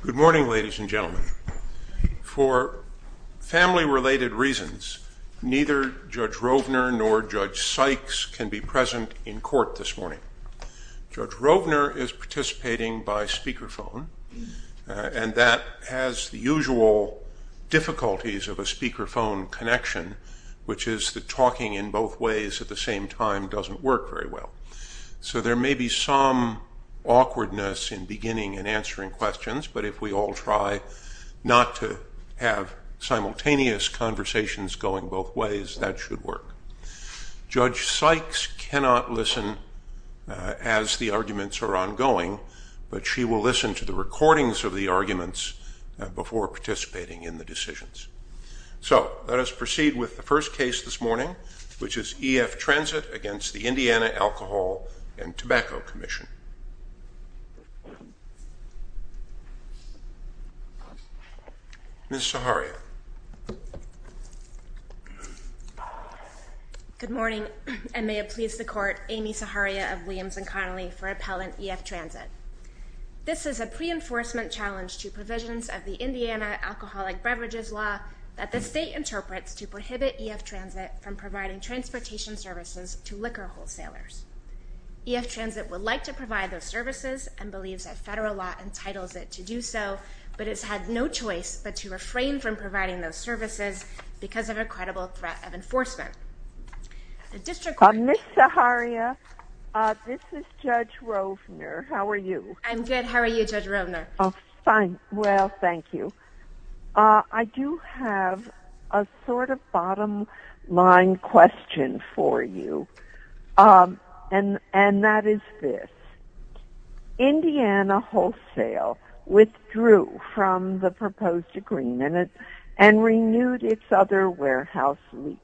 Good morning, ladies and gentlemen. For family-related reasons, neither Judge Rovner nor Judge Sykes can be present in court this morning. Judge Rovner is participating by speakerphone, and that has the usual difficulties of a speakerphone connection, which is that talking in both ways at the same time doesn't work very well. So there may be some awkwardness in beginning and answering questions, but if we all try not to have simultaneous conversations going both ways, that should work. Judge Sykes cannot listen as the arguments are ongoing, but she will listen to the recordings of the arguments before participating in the decisions. So let us proceed with the first case this morning, which is E.F. Transit v. Indiana Alcohol and Tobacco Co. Ms. Saharia. Good morning, and may it please the Court, Amy Saharia of Williams and Connolly for Appellant E.F. Transit. This is a pre-enforcement challenge to provisions of the Indiana Alcoholic Beverages Law that the State interprets to prohibit E.F. Transit from providing transportation services to liquor wholesalers. E.F. Transit would like to provide those services and believes that federal law entitles it to do so, but it has had no choice but to refrain from providing those services because of a credible threat of enforcement. Ms. Saharia, this is Judge Rovner. How are you? I'm good. How are you, Judge Rovner? Fine. Well, thank you. I do have a sort of bottom line question for you, and that is this. Indiana Wholesale withdrew from the proposed agreement and renewed its other warehouse lease,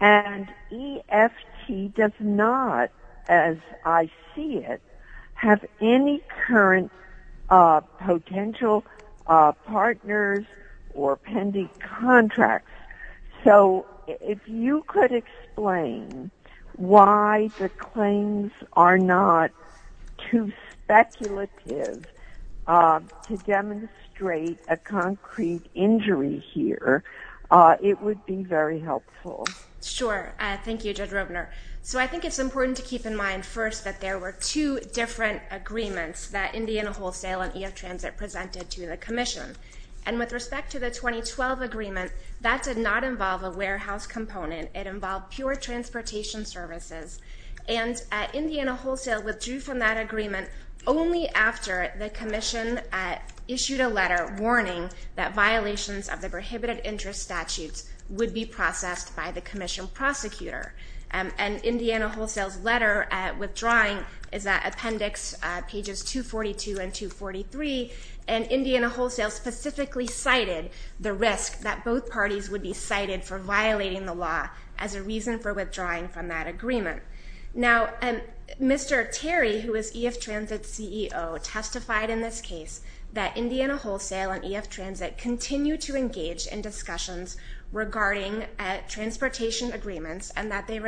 and E.F.T. does not, as I see it, have any current potential partners or pending contracts. So if you could explain why the claims are not too speculative to demonstrate a concrete injury here, it would be very helpful. Sure. Thank you, Judge Rovner. So I think it's important to keep in mind first that there were two different agreements that Indiana Wholesale and E.F. Transit presented to the Commission, and with respect to the 2012 agreement, that did not involve a warehouse component. It involved pure transportation services, and Indiana Wholesale withdrew from that agreement only after the Commission issued a letter warning that violations of the prohibited interest statutes would be processed by the 242 and 243, and Indiana Wholesale specifically cited the risk that both parties would be cited for violating the law as a reason for withdrawing from that agreement. Now, Mr. Terry, who is E.F. Transit's CEO, testified in this case that Indiana Wholesale and E.F. Transit continue to engage in discussions regarding transportation agreements and that in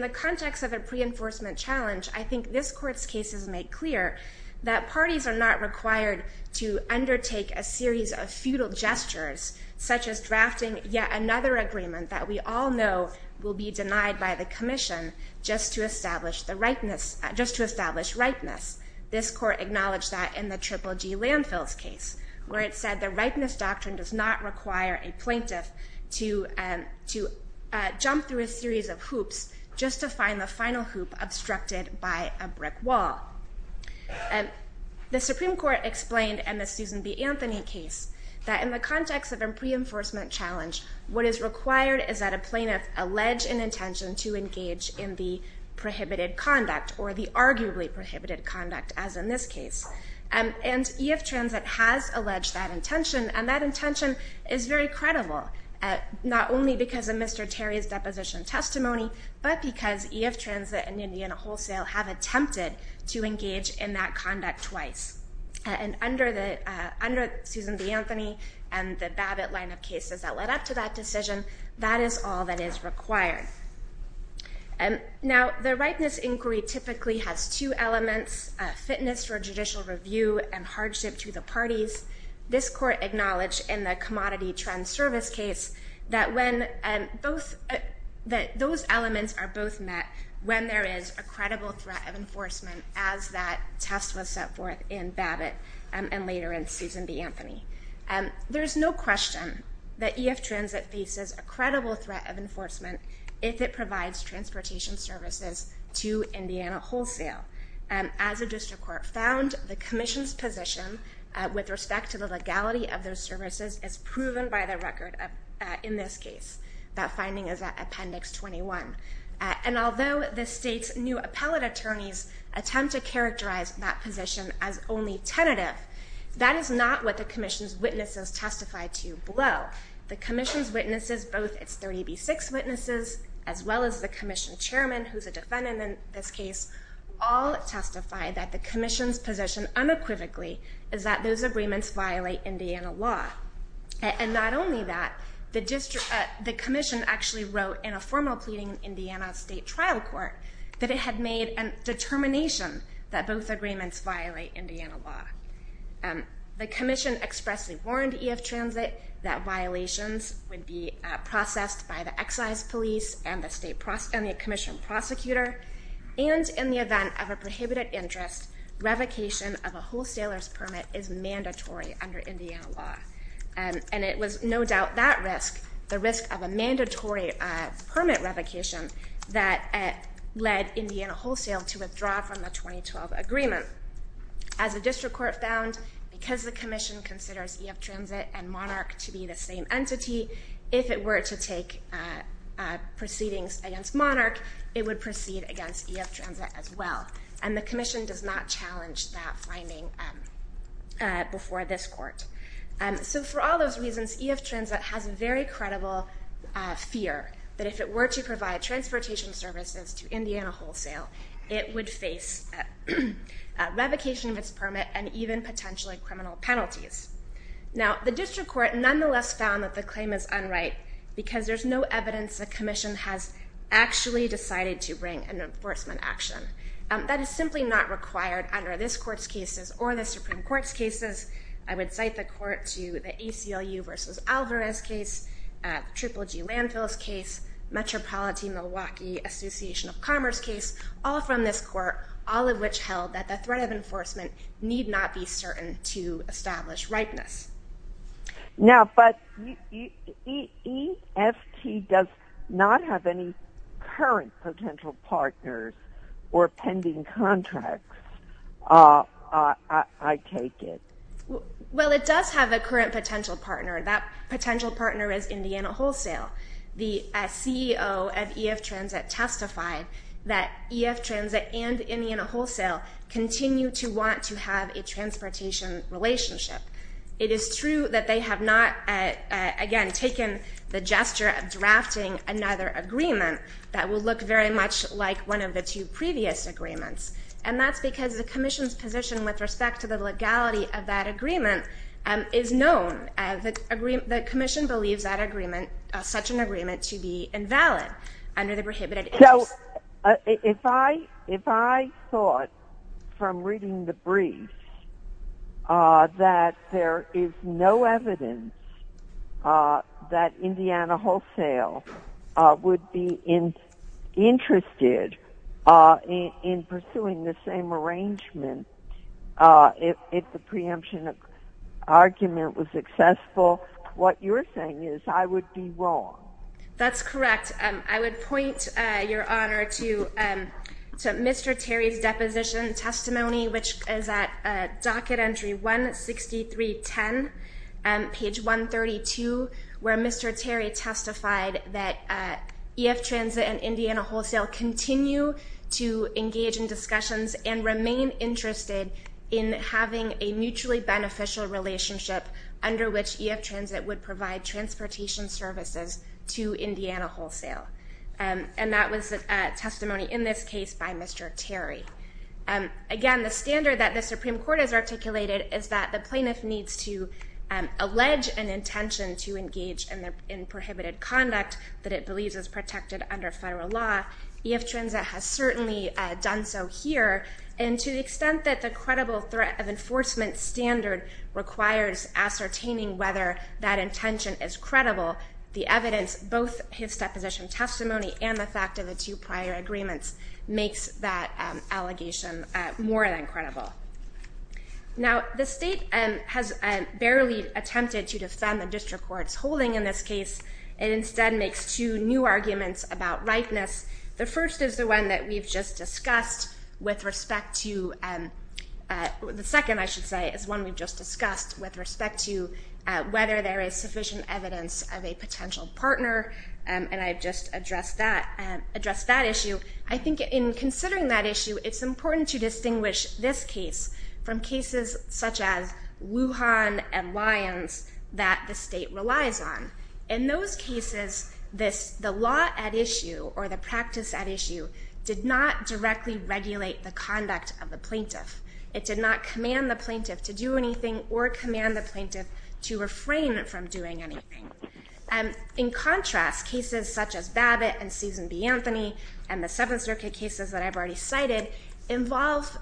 the context of a pre-enforcement challenge, I think this Court's cases make clear that parties are not required to undertake a series of futile gestures, such as drafting yet another agreement that we all know will be denied by the Commission just to establish rightness. This Court acknowledged that in the GGG landfills case, where it said the rightness doctrine does not require a plaintiff to jump through a series of hoops just to find the final hoop obstructed by a brick wall. The Supreme Court explained in the Susan B. Anthony case that in the context of a pre-enforcement challenge, what is required is that a plaintiff allege an intention to engage in the prohibited conduct, or the arguably prohibited conduct, as in this case. And E.F. Transit has alleged that intention, and that intention is very credible, not only because of Mr. Terry's deposition testimony, but because E.F. Transit and Indiana Wholesale have attempted to engage in that conduct twice. And under Susan B. Anthony and the Babbitt line of cases that led up to that decision, that is all that is required. Now, the rightness inquiry typically has two elements, fitness for judicial review and hardship to the parties. This Court acknowledged in the Commodity Trans Service case that those elements are both met when there is a credible threat of enforcement, as that test was set forth in Babbitt, and later in Susan B. Anthony. There is no question that E.F. Transit faces a credible threat of enforcement if it provides transportation services to Indiana Wholesale. As the District Court found, the Commission's position with respect to the legality of those services is proven by the record in this case. That finding is at Appendix 21. And although the state's new appellate attorneys attempt to characterize that position as only tentative, that is not what the Commission's witnesses testified to below. The Commission's witnesses, both its 30B6 witnesses, as well as the Commission chairman, who is a defendant in this case, all testified that the Commission's position unequivocally is that those agreements violate Indiana law. And not only that, the Commission actually wrote in a formal pleading in Indiana State Trial Court that it had made a determination that both agreements violate Indiana law. The Commission expressly warned E.F. Transit that violations would be processed by the excise police and the Commission prosecutor, and in the event of a prohibited interest, revocation of a wholesaler's permit is mandatory under Indiana law. And it was no doubt that risk, the risk of a mandatory permit revocation, that led Indiana Wholesale to withdraw from the 2012 agreement. As the District Court found, because the Commission considers E.F. Transit and Monarch to be the same entity, if it were to take proceedings against Monarch, it would proceed against E.F. Transit as well. And the Commission does not challenge that in this court. So for all those reasons, E.F. Transit has a very credible fear that if it were to provide transportation services to Indiana Wholesale, it would face revocation of its permit and even potentially criminal penalties. Now, the District Court nonetheless found that the claim is unright because there's no evidence the Commission has actually decided to bring an enforcement action. That is simply not required under this Court's cases or the I would cite the Court to the ACLU v. Alvarez case, the Triple G Landfills case, Metropolitan Milwaukee Association of Commerce case, all from this Court, all of which held that the threat of enforcement need not be certain to establish rightness. Now, but E.F.T. does not have any current potential partners or pending contracts, I Well, it does have a current potential partner. That potential partner is Indiana Wholesale. The CEO of E.F. Transit testified that E.F. Transit and Indiana Wholesale continue to want to have a transportation relationship. It is true that they have not, again, taken the gesture of drafting another agreement that will look very much like one of the two previous agreements. And that's because the Commission's position with respect to the legality of that is known. The Commission believes that agreement, such an agreement, to be invalid under the prohibited interest. So if I thought from reading the briefs that there is no evidence that Indiana Wholesale would be interested in pursuing the same arrangement if the preemption argument was successful, what you're saying is I would be wrong. That's correct. I would point, Your Honor, to Mr. Terry's deposition testimony, which that E.F. Transit and Indiana Wholesale continue to engage in discussions and remain interested in having a mutually beneficial relationship under which E.F. Transit would provide transportation services to Indiana Wholesale. And that was a testimony in this case by Mr. Terry. Again, the standard that the Supreme Court has articulated is that the plaintiff needs to allege an intention to engage in prohibited conduct that it believes is protected under federal law. E.F. Transit has certainly done so here. And to the extent that the credible threat of enforcement standard requires ascertaining whether that intention is credible, the evidence, both his deposition testimony and the fact of the two prior agreements, makes that allegation more than credible. Now, the state has barely attempted to defend the district court's holding in this case. It instead makes two new arguments about rightness. The first is the one that we've just discussed with respect to—the second, I should say, is one we've just discussed with respect to whether there is sufficient evidence of a potential partner. And I've just addressed that issue. I think in considering that issue, it's important to distinguish this case from cases such as Wuhan and Lyons that the state relies on. In those cases, the law at issue or the practice at issue did not directly regulate the conduct of the plaintiff. It did not command the plaintiff to do anything or command the plaintiff to refrain from doing anything. In contrast, cases such as Babbitt and Susan B. Anthony and the Seventh Circuit cases that I've already cited involve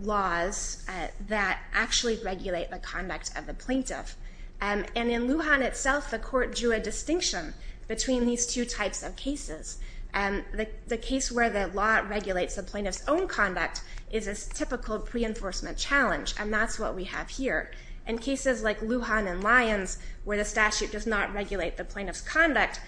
laws that actually regulate the conduct of the plaintiff. And in Wuhan itself, the court drew a distinction between these two types of cases. The case where the law regulates the plaintiff's own conduct is a typical pre-enforcement challenge, and that's what we have here. In cases like Wuhan and Lyons, where the statute does not regulate the plaintiff's conduct,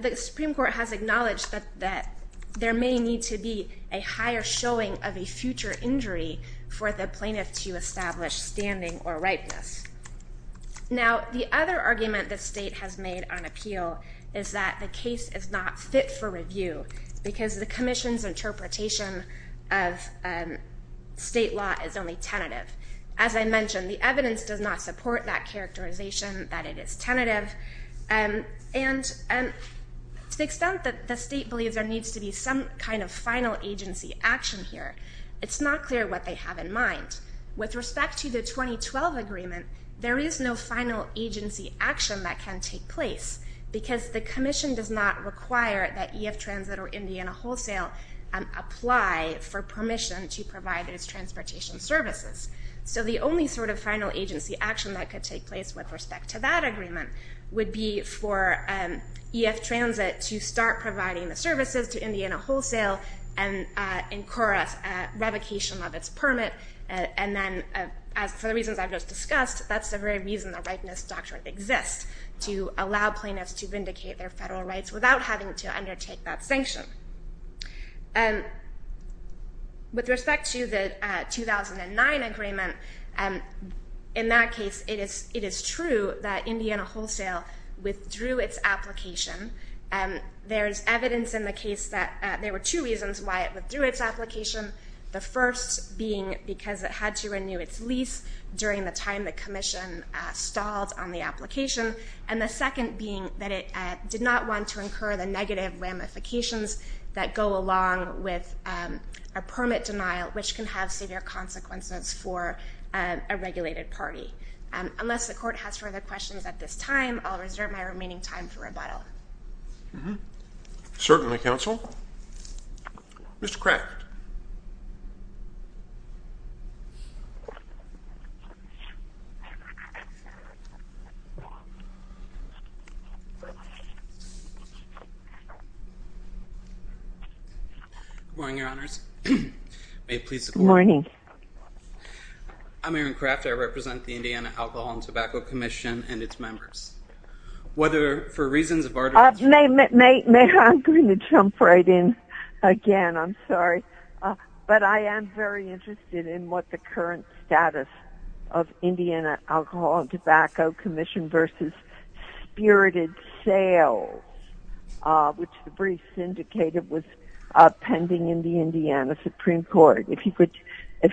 the Supreme Court has acknowledged that there may need to be a higher showing of a future injury for the plaintiff to establish standing or ripeness. Now the other argument the state has made on appeal is that the case is not fit for review because the commission's interpretation of state law is only tentative. As I mentioned, the evidence does not support that characterization that it is tentative. And to the extent that the state believes there needs to be some kind of final agency action here, it's not clear what they have in mind. With respect to the 2012 agreement, there is no final agency action that can take place because the commission does not require that EF Transit or Indiana Final Agency action that could take place with respect to that agreement would be for EF Transit to start providing the services to Indiana Wholesale and incur a revocation of its permit. And then, as for the reasons I've just discussed, that's the very reason the ripeness doctrine exists, to allow plaintiffs to vindicate their federal rights without having to undertake that sanction. With respect to the 2009 agreement, there is no final agency action. In that case, it is true that Indiana Wholesale withdrew its application. There's evidence in the case that there were two reasons why it withdrew its application. The first being because it had to renew its lease during the time the commission stalled on the application. And the second being that it did not want to incur the negative ramifications that go unless the court has further questions at this time, I'll reserve my remaining time for rebuttal. Certainly, Counsel. Mr. Kraft. Good morning, Your Honors. May it please the Court. Good morning. I'm Aaron Kraft. I represent the Indiana Alcohol and Tobacco Commission and its members. Whether for reasons of ardor... I'm going to jump right in again. I'm sorry. But I am very interested in what the current status of Indiana Alcohol and Tobacco Commission versus spirited sales, which the briefs indicated was pending in the Indiana Supreme Court. If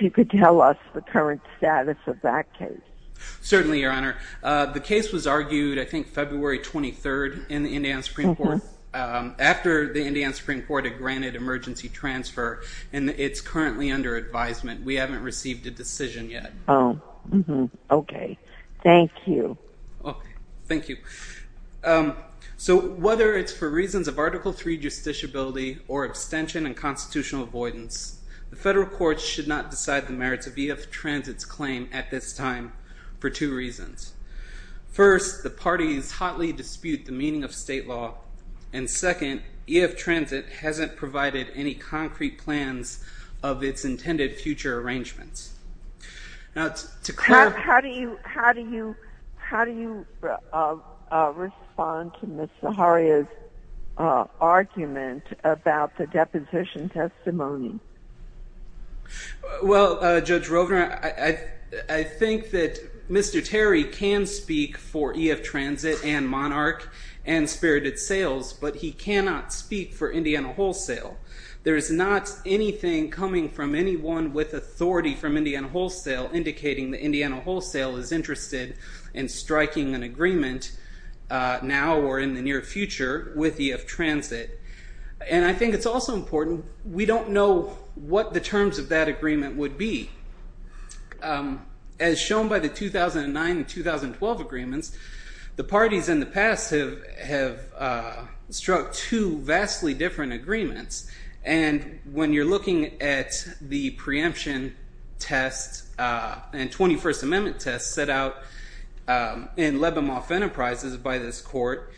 you could tell us the current status of that case. Certainly, Your Honor. The case was argued, I think, February 23rd in the Indiana Supreme Court. After the Indiana Supreme Court had granted emergency transfer. And it's currently under advisement. We haven't received a decision yet. Oh. Okay. Thank you. Okay. Thank you. So, whether it's for reasons of Article III justiciability or abstention and constitutional avoidance, the federal courts should not decide the merits of EF Transit's claim at this time for two reasons. First, the parties hotly dispute the meaning of state law. And second, EF Transit hasn't provided any concrete plans of its intended future arrangements. Now, to clarify... How do you respond to Ms. Zaharia's argument about the deposition testimony? Well, Judge Rovner, I think that Mr. Terry can speak for EF Transit and Monarch and spirited sales. But he cannot speak for Indiana Wholesale. There is not anything coming from anyone with authority from Indiana Wholesale indicating that Indiana Wholesale is interested in striking an agreement now or in the near future with EF Transit. And I think it's also important, we don't know what the terms of that agreement would be. As shown by the 2009 and 2012 agreements, the parties in the past have struck two vastly different agreements. And when you're looking at the preemption test and 21st Amendment test set out in Lebemoff Enterprises by this court,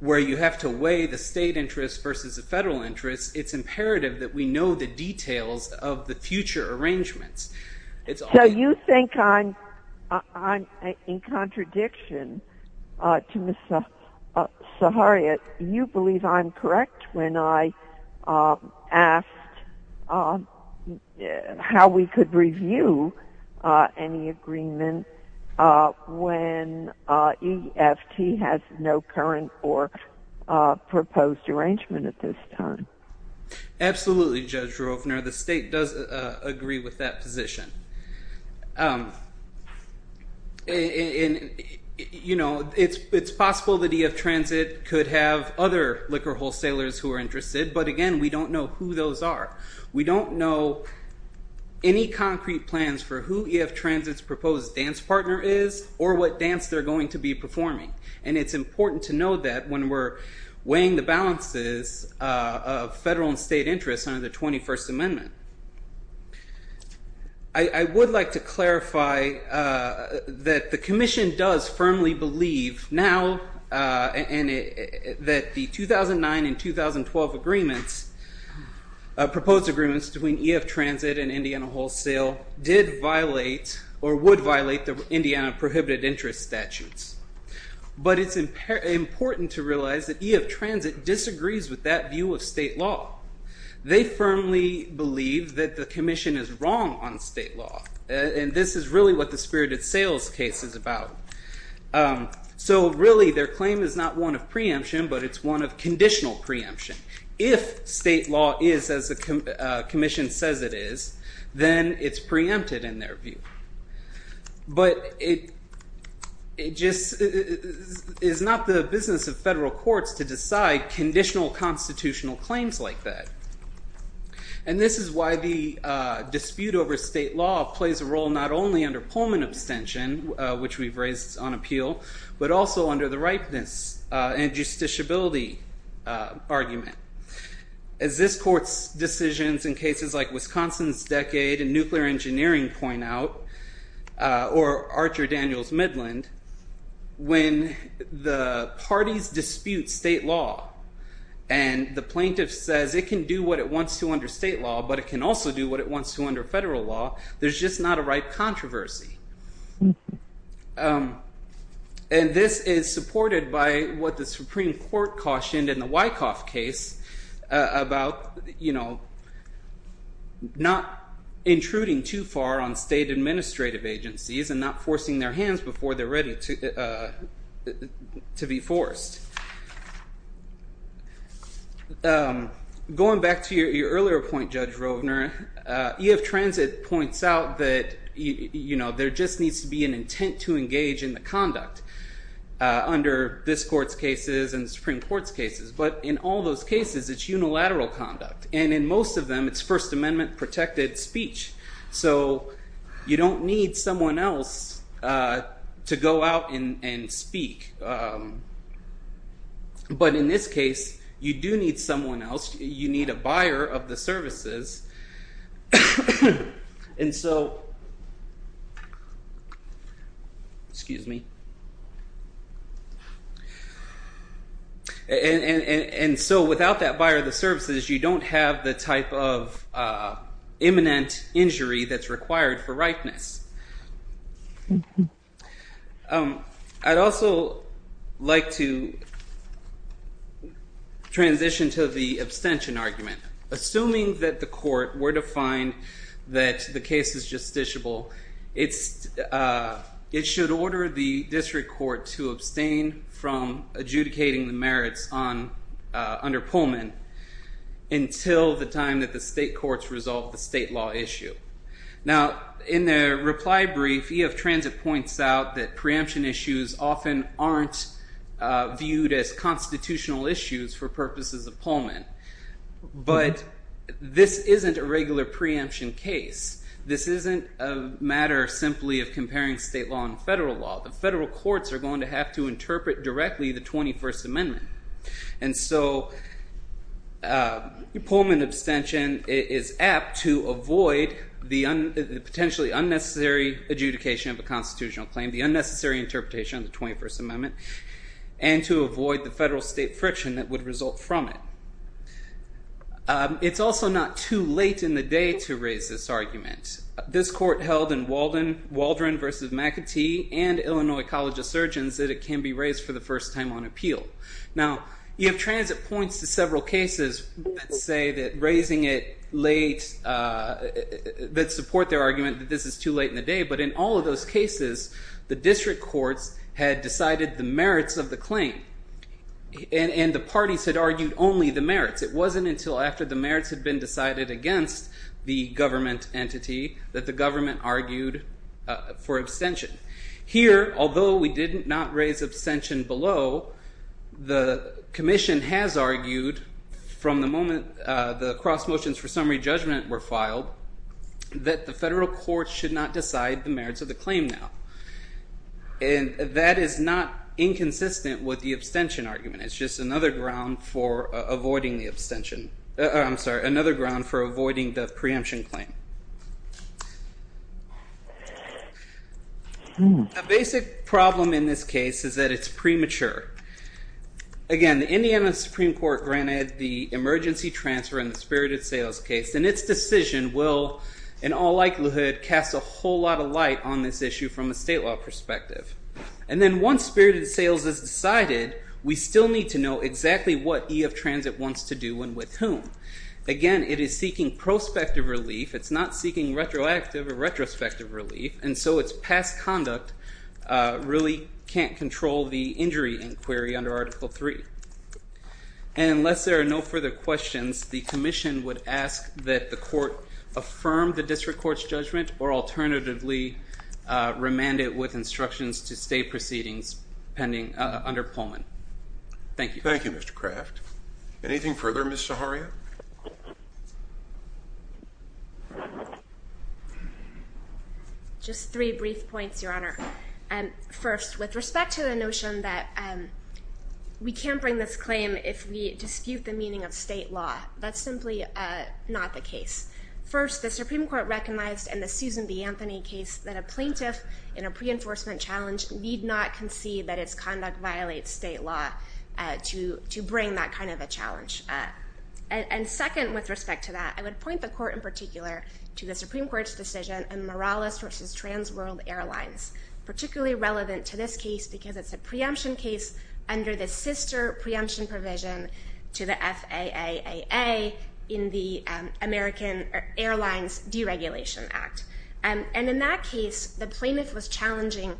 where you have to weigh the state interest versus the federal interest, it's imperative that we know the details of the future arrangements. So you think I'm in contradiction to Ms. Zaharia? You believe I'm correct when I asked how we could review any agreement when EFT has no current or proposed arrangement at this time? Absolutely, Judge Rovner. The state does agree with that position. It's possible that EF Transit could have other liquor wholesalers who are interested, but again, we don't know who those are. We don't know any concrete plans for who EF Transit's proposed dance partner is or what dance they're going to be performing. And it's important to know that when we're weighing the balances of federal and state interest under the 21st Amendment. I would like to clarify that the Commission does firmly believe now that the 2009 and 2012 agreements, proposed agreements between EF Transit and Indiana Wholesale, did violate or would violate the Indiana prohibited interest statutes. But it's important to realize that EF Transit disagrees with that view of state law. They firmly believe that the Commission is wrong on state law. And this is really what the spirited sales case is about. So really their claim is not one of preemption, but it's one of conditional preemption. If state law is as the Commission says it is, then it's preempted in their view. But it just is not the business of federal courts to decide conditional constitutional claims like that. And this is why the dispute over state law plays a role not only under Pullman abstention, which we've raised on appeal, but also under the ripeness and justiciability argument. As this court's decisions in cases like Wisconsin's decade and nuclear engineering point out, or Archer Daniels Midland, when the parties dispute state law and the plaintiff says it can do what it wants to under state law, but it can also do what it wants to under federal law. There's just not a right controversy. And this is supported by what the Supreme Court cautioned in the Wyckoff case about, you know, not intruding too far on state administrative agencies and not forcing their hands before they're ready to be forced. Going back to your earlier point, Judge Rovner, EF Transit points out that there just needs to be an intent to engage in the conduct under this court's cases and the Supreme Court's cases. But in all those cases, it's unilateral conduct. And in most of them, it's First Amendment protected speech. So you don't need someone else to go out and speak. But in this case, you do need someone else. You need a buyer of the services. And so without that buyer of the services, you don't have the type of imminent injury that's required for ripeness. I'd also like to transition to the abstention argument. Assuming that the court were to find that the case is justiciable, it should order the district court to abstain from adjudicating the merits under Pullman until the time that the state courts resolve the state law issue. Now, in their reply brief, EF Transit points out that preemption issues often aren't viewed as constitutional issues for purposes of Pullman. But this isn't a regular preemption case. This isn't a matter simply of comparing state law and federal law. The federal courts are going to have to interpret directly the 21st Amendment. And so Pullman abstention is apt to avoid the potentially unnecessary adjudication of a constitutional claim, the unnecessary interpretation of the 21st Amendment, and to avoid the federal state friction that would result from it. It's also not too late in the day to raise this argument. This court held in Waldron v. McAtee and Illinois College of Surgeons that it can be raised for the first time on appeal. Now, EF Transit points to several cases that say that raising it late, that support their argument that this is too late in the day. But in all of those cases, the district courts had decided the merits of the claim. And the parties had argued only the merits. It wasn't until after the merits had been decided against the government entity that the government argued for abstention. Here, although we did not raise abstention below, the commission has argued from the moment the cross motions for summary judgment were filed that the federal courts should not decide the merits of the claim now. And that is not inconsistent with the abstention argument. It's just another ground for avoiding the abstention. I'm sorry, another ground for avoiding the preemption claim. A basic problem in this case is that it's premature. Again, the Indiana Supreme Court granted the emergency transfer in the spirited sales case. And its decision will, in all likelihood, cast a whole lot of light on this issue from a state law perspective. And then once spirited sales is decided, we still need to know exactly what E of transit wants to do and with whom. Again, it is seeking prospective relief. It's not seeking retroactive or retrospective relief. And so its past conduct really can't control the injury inquiry under Article 3. And unless there are no further questions, the commission would ask that the court affirm the district court's judgment or alternatively remand it with instructions to stay proceedings under Pullman. Thank you. Thank you, Mr. Kraft. Anything further, Ms. Zaharia? Just three brief points, Your Honor. First, with respect to the notion that we can't bring this claim if we dispute the meaning of state law. That's simply not the case. First, the Supreme Court recognized in the Susan B. Anthony case that a plaintiff in a pre-enforcement challenge need not concede that its conduct violates state law to bring that kind of a challenge. And second, with respect to that, I would point the court in particular to the Supreme Court's decision in Morales v. Trans World Airlines, particularly relevant to this case because it's a preemption case under the sister preemption provision to the FAAAA in the American Airlines Deregulation Act. And in that case, the plaintiff was challenging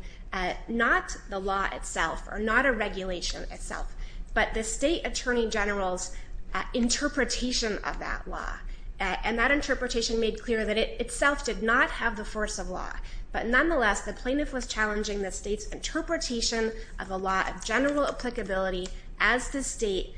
not the law itself or not a regulation itself, but the state attorney general's interpretation of that law. And that interpretation made clear that it itself did not have the force of law. But nonetheless, the plaintiff was challenging the state's interpretation of a law of general applicability as the state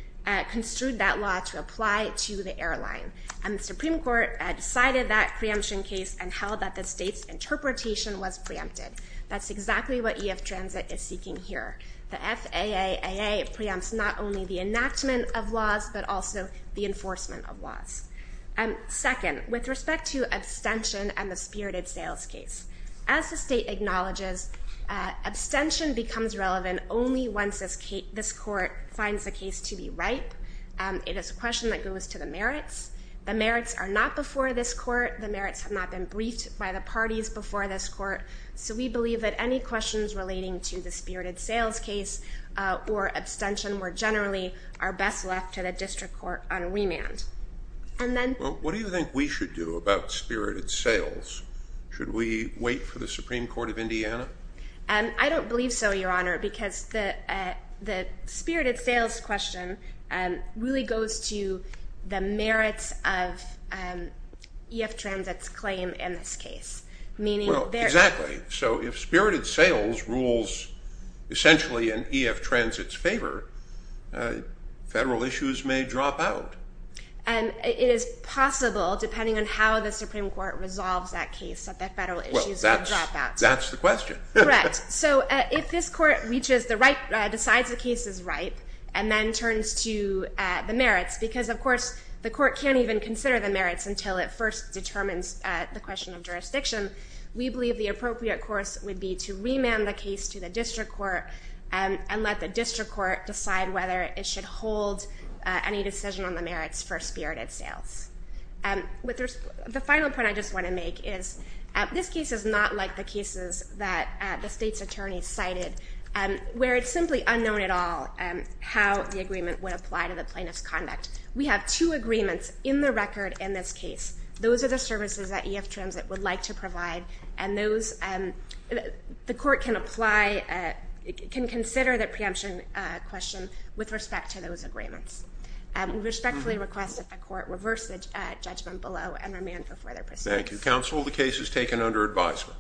construed that law to apply to the airline. And the Supreme Court decided that preemption case and held that the state's interpretation was preempted. That's exactly what EF Transit is seeking here. The FAAAA preempts not only the enactment of laws, but also the enforcement of laws. Second, with respect to abstention and the spirited sales case, as the state acknowledges, abstention becomes relevant only once this court finds the case to be ripe. It is a question that goes to the merits. The merits are not before this court. The merits have not been briefed by the parties before this court. So we believe that any questions relating to the spirited sales case or abstention more generally are best left to the district court on remand. Well, what do you think we should do about spirited sales? Should we wait for the Supreme Court of Indiana? I don't believe so, Your Honor, because the spirited sales question really goes to the merits of EF Transit's claim in this case. Well, exactly. So if spirited sales rules essentially in EF Transit's favor, federal issues may drop out. It is possible, depending on how the Supreme Court resolves that case, that the federal issues may drop out. Well, that's the question. Correct. So if this court decides the case is ripe and then turns to the merits, because, of course, the court can't even consider the merits until it first determines the question of jurisdiction, we believe the appropriate course would be to remand the case to the district court and let the district court decide whether it should hold any decision on the merits for spirited sales. The final point I just want to make is this case is not like the cases that the state's attorney cited, where it's simply unknown at all how the agreement would apply to the plaintiff's conduct. We have two agreements in the record in this case. Those are the services that EF Transit would like to provide, and the court can consider the preemption question with respect to those agreements. We respectfully request that the court reverse the judgment below and remand for further proceedings. Thank you, counsel. The case is taken under advisement.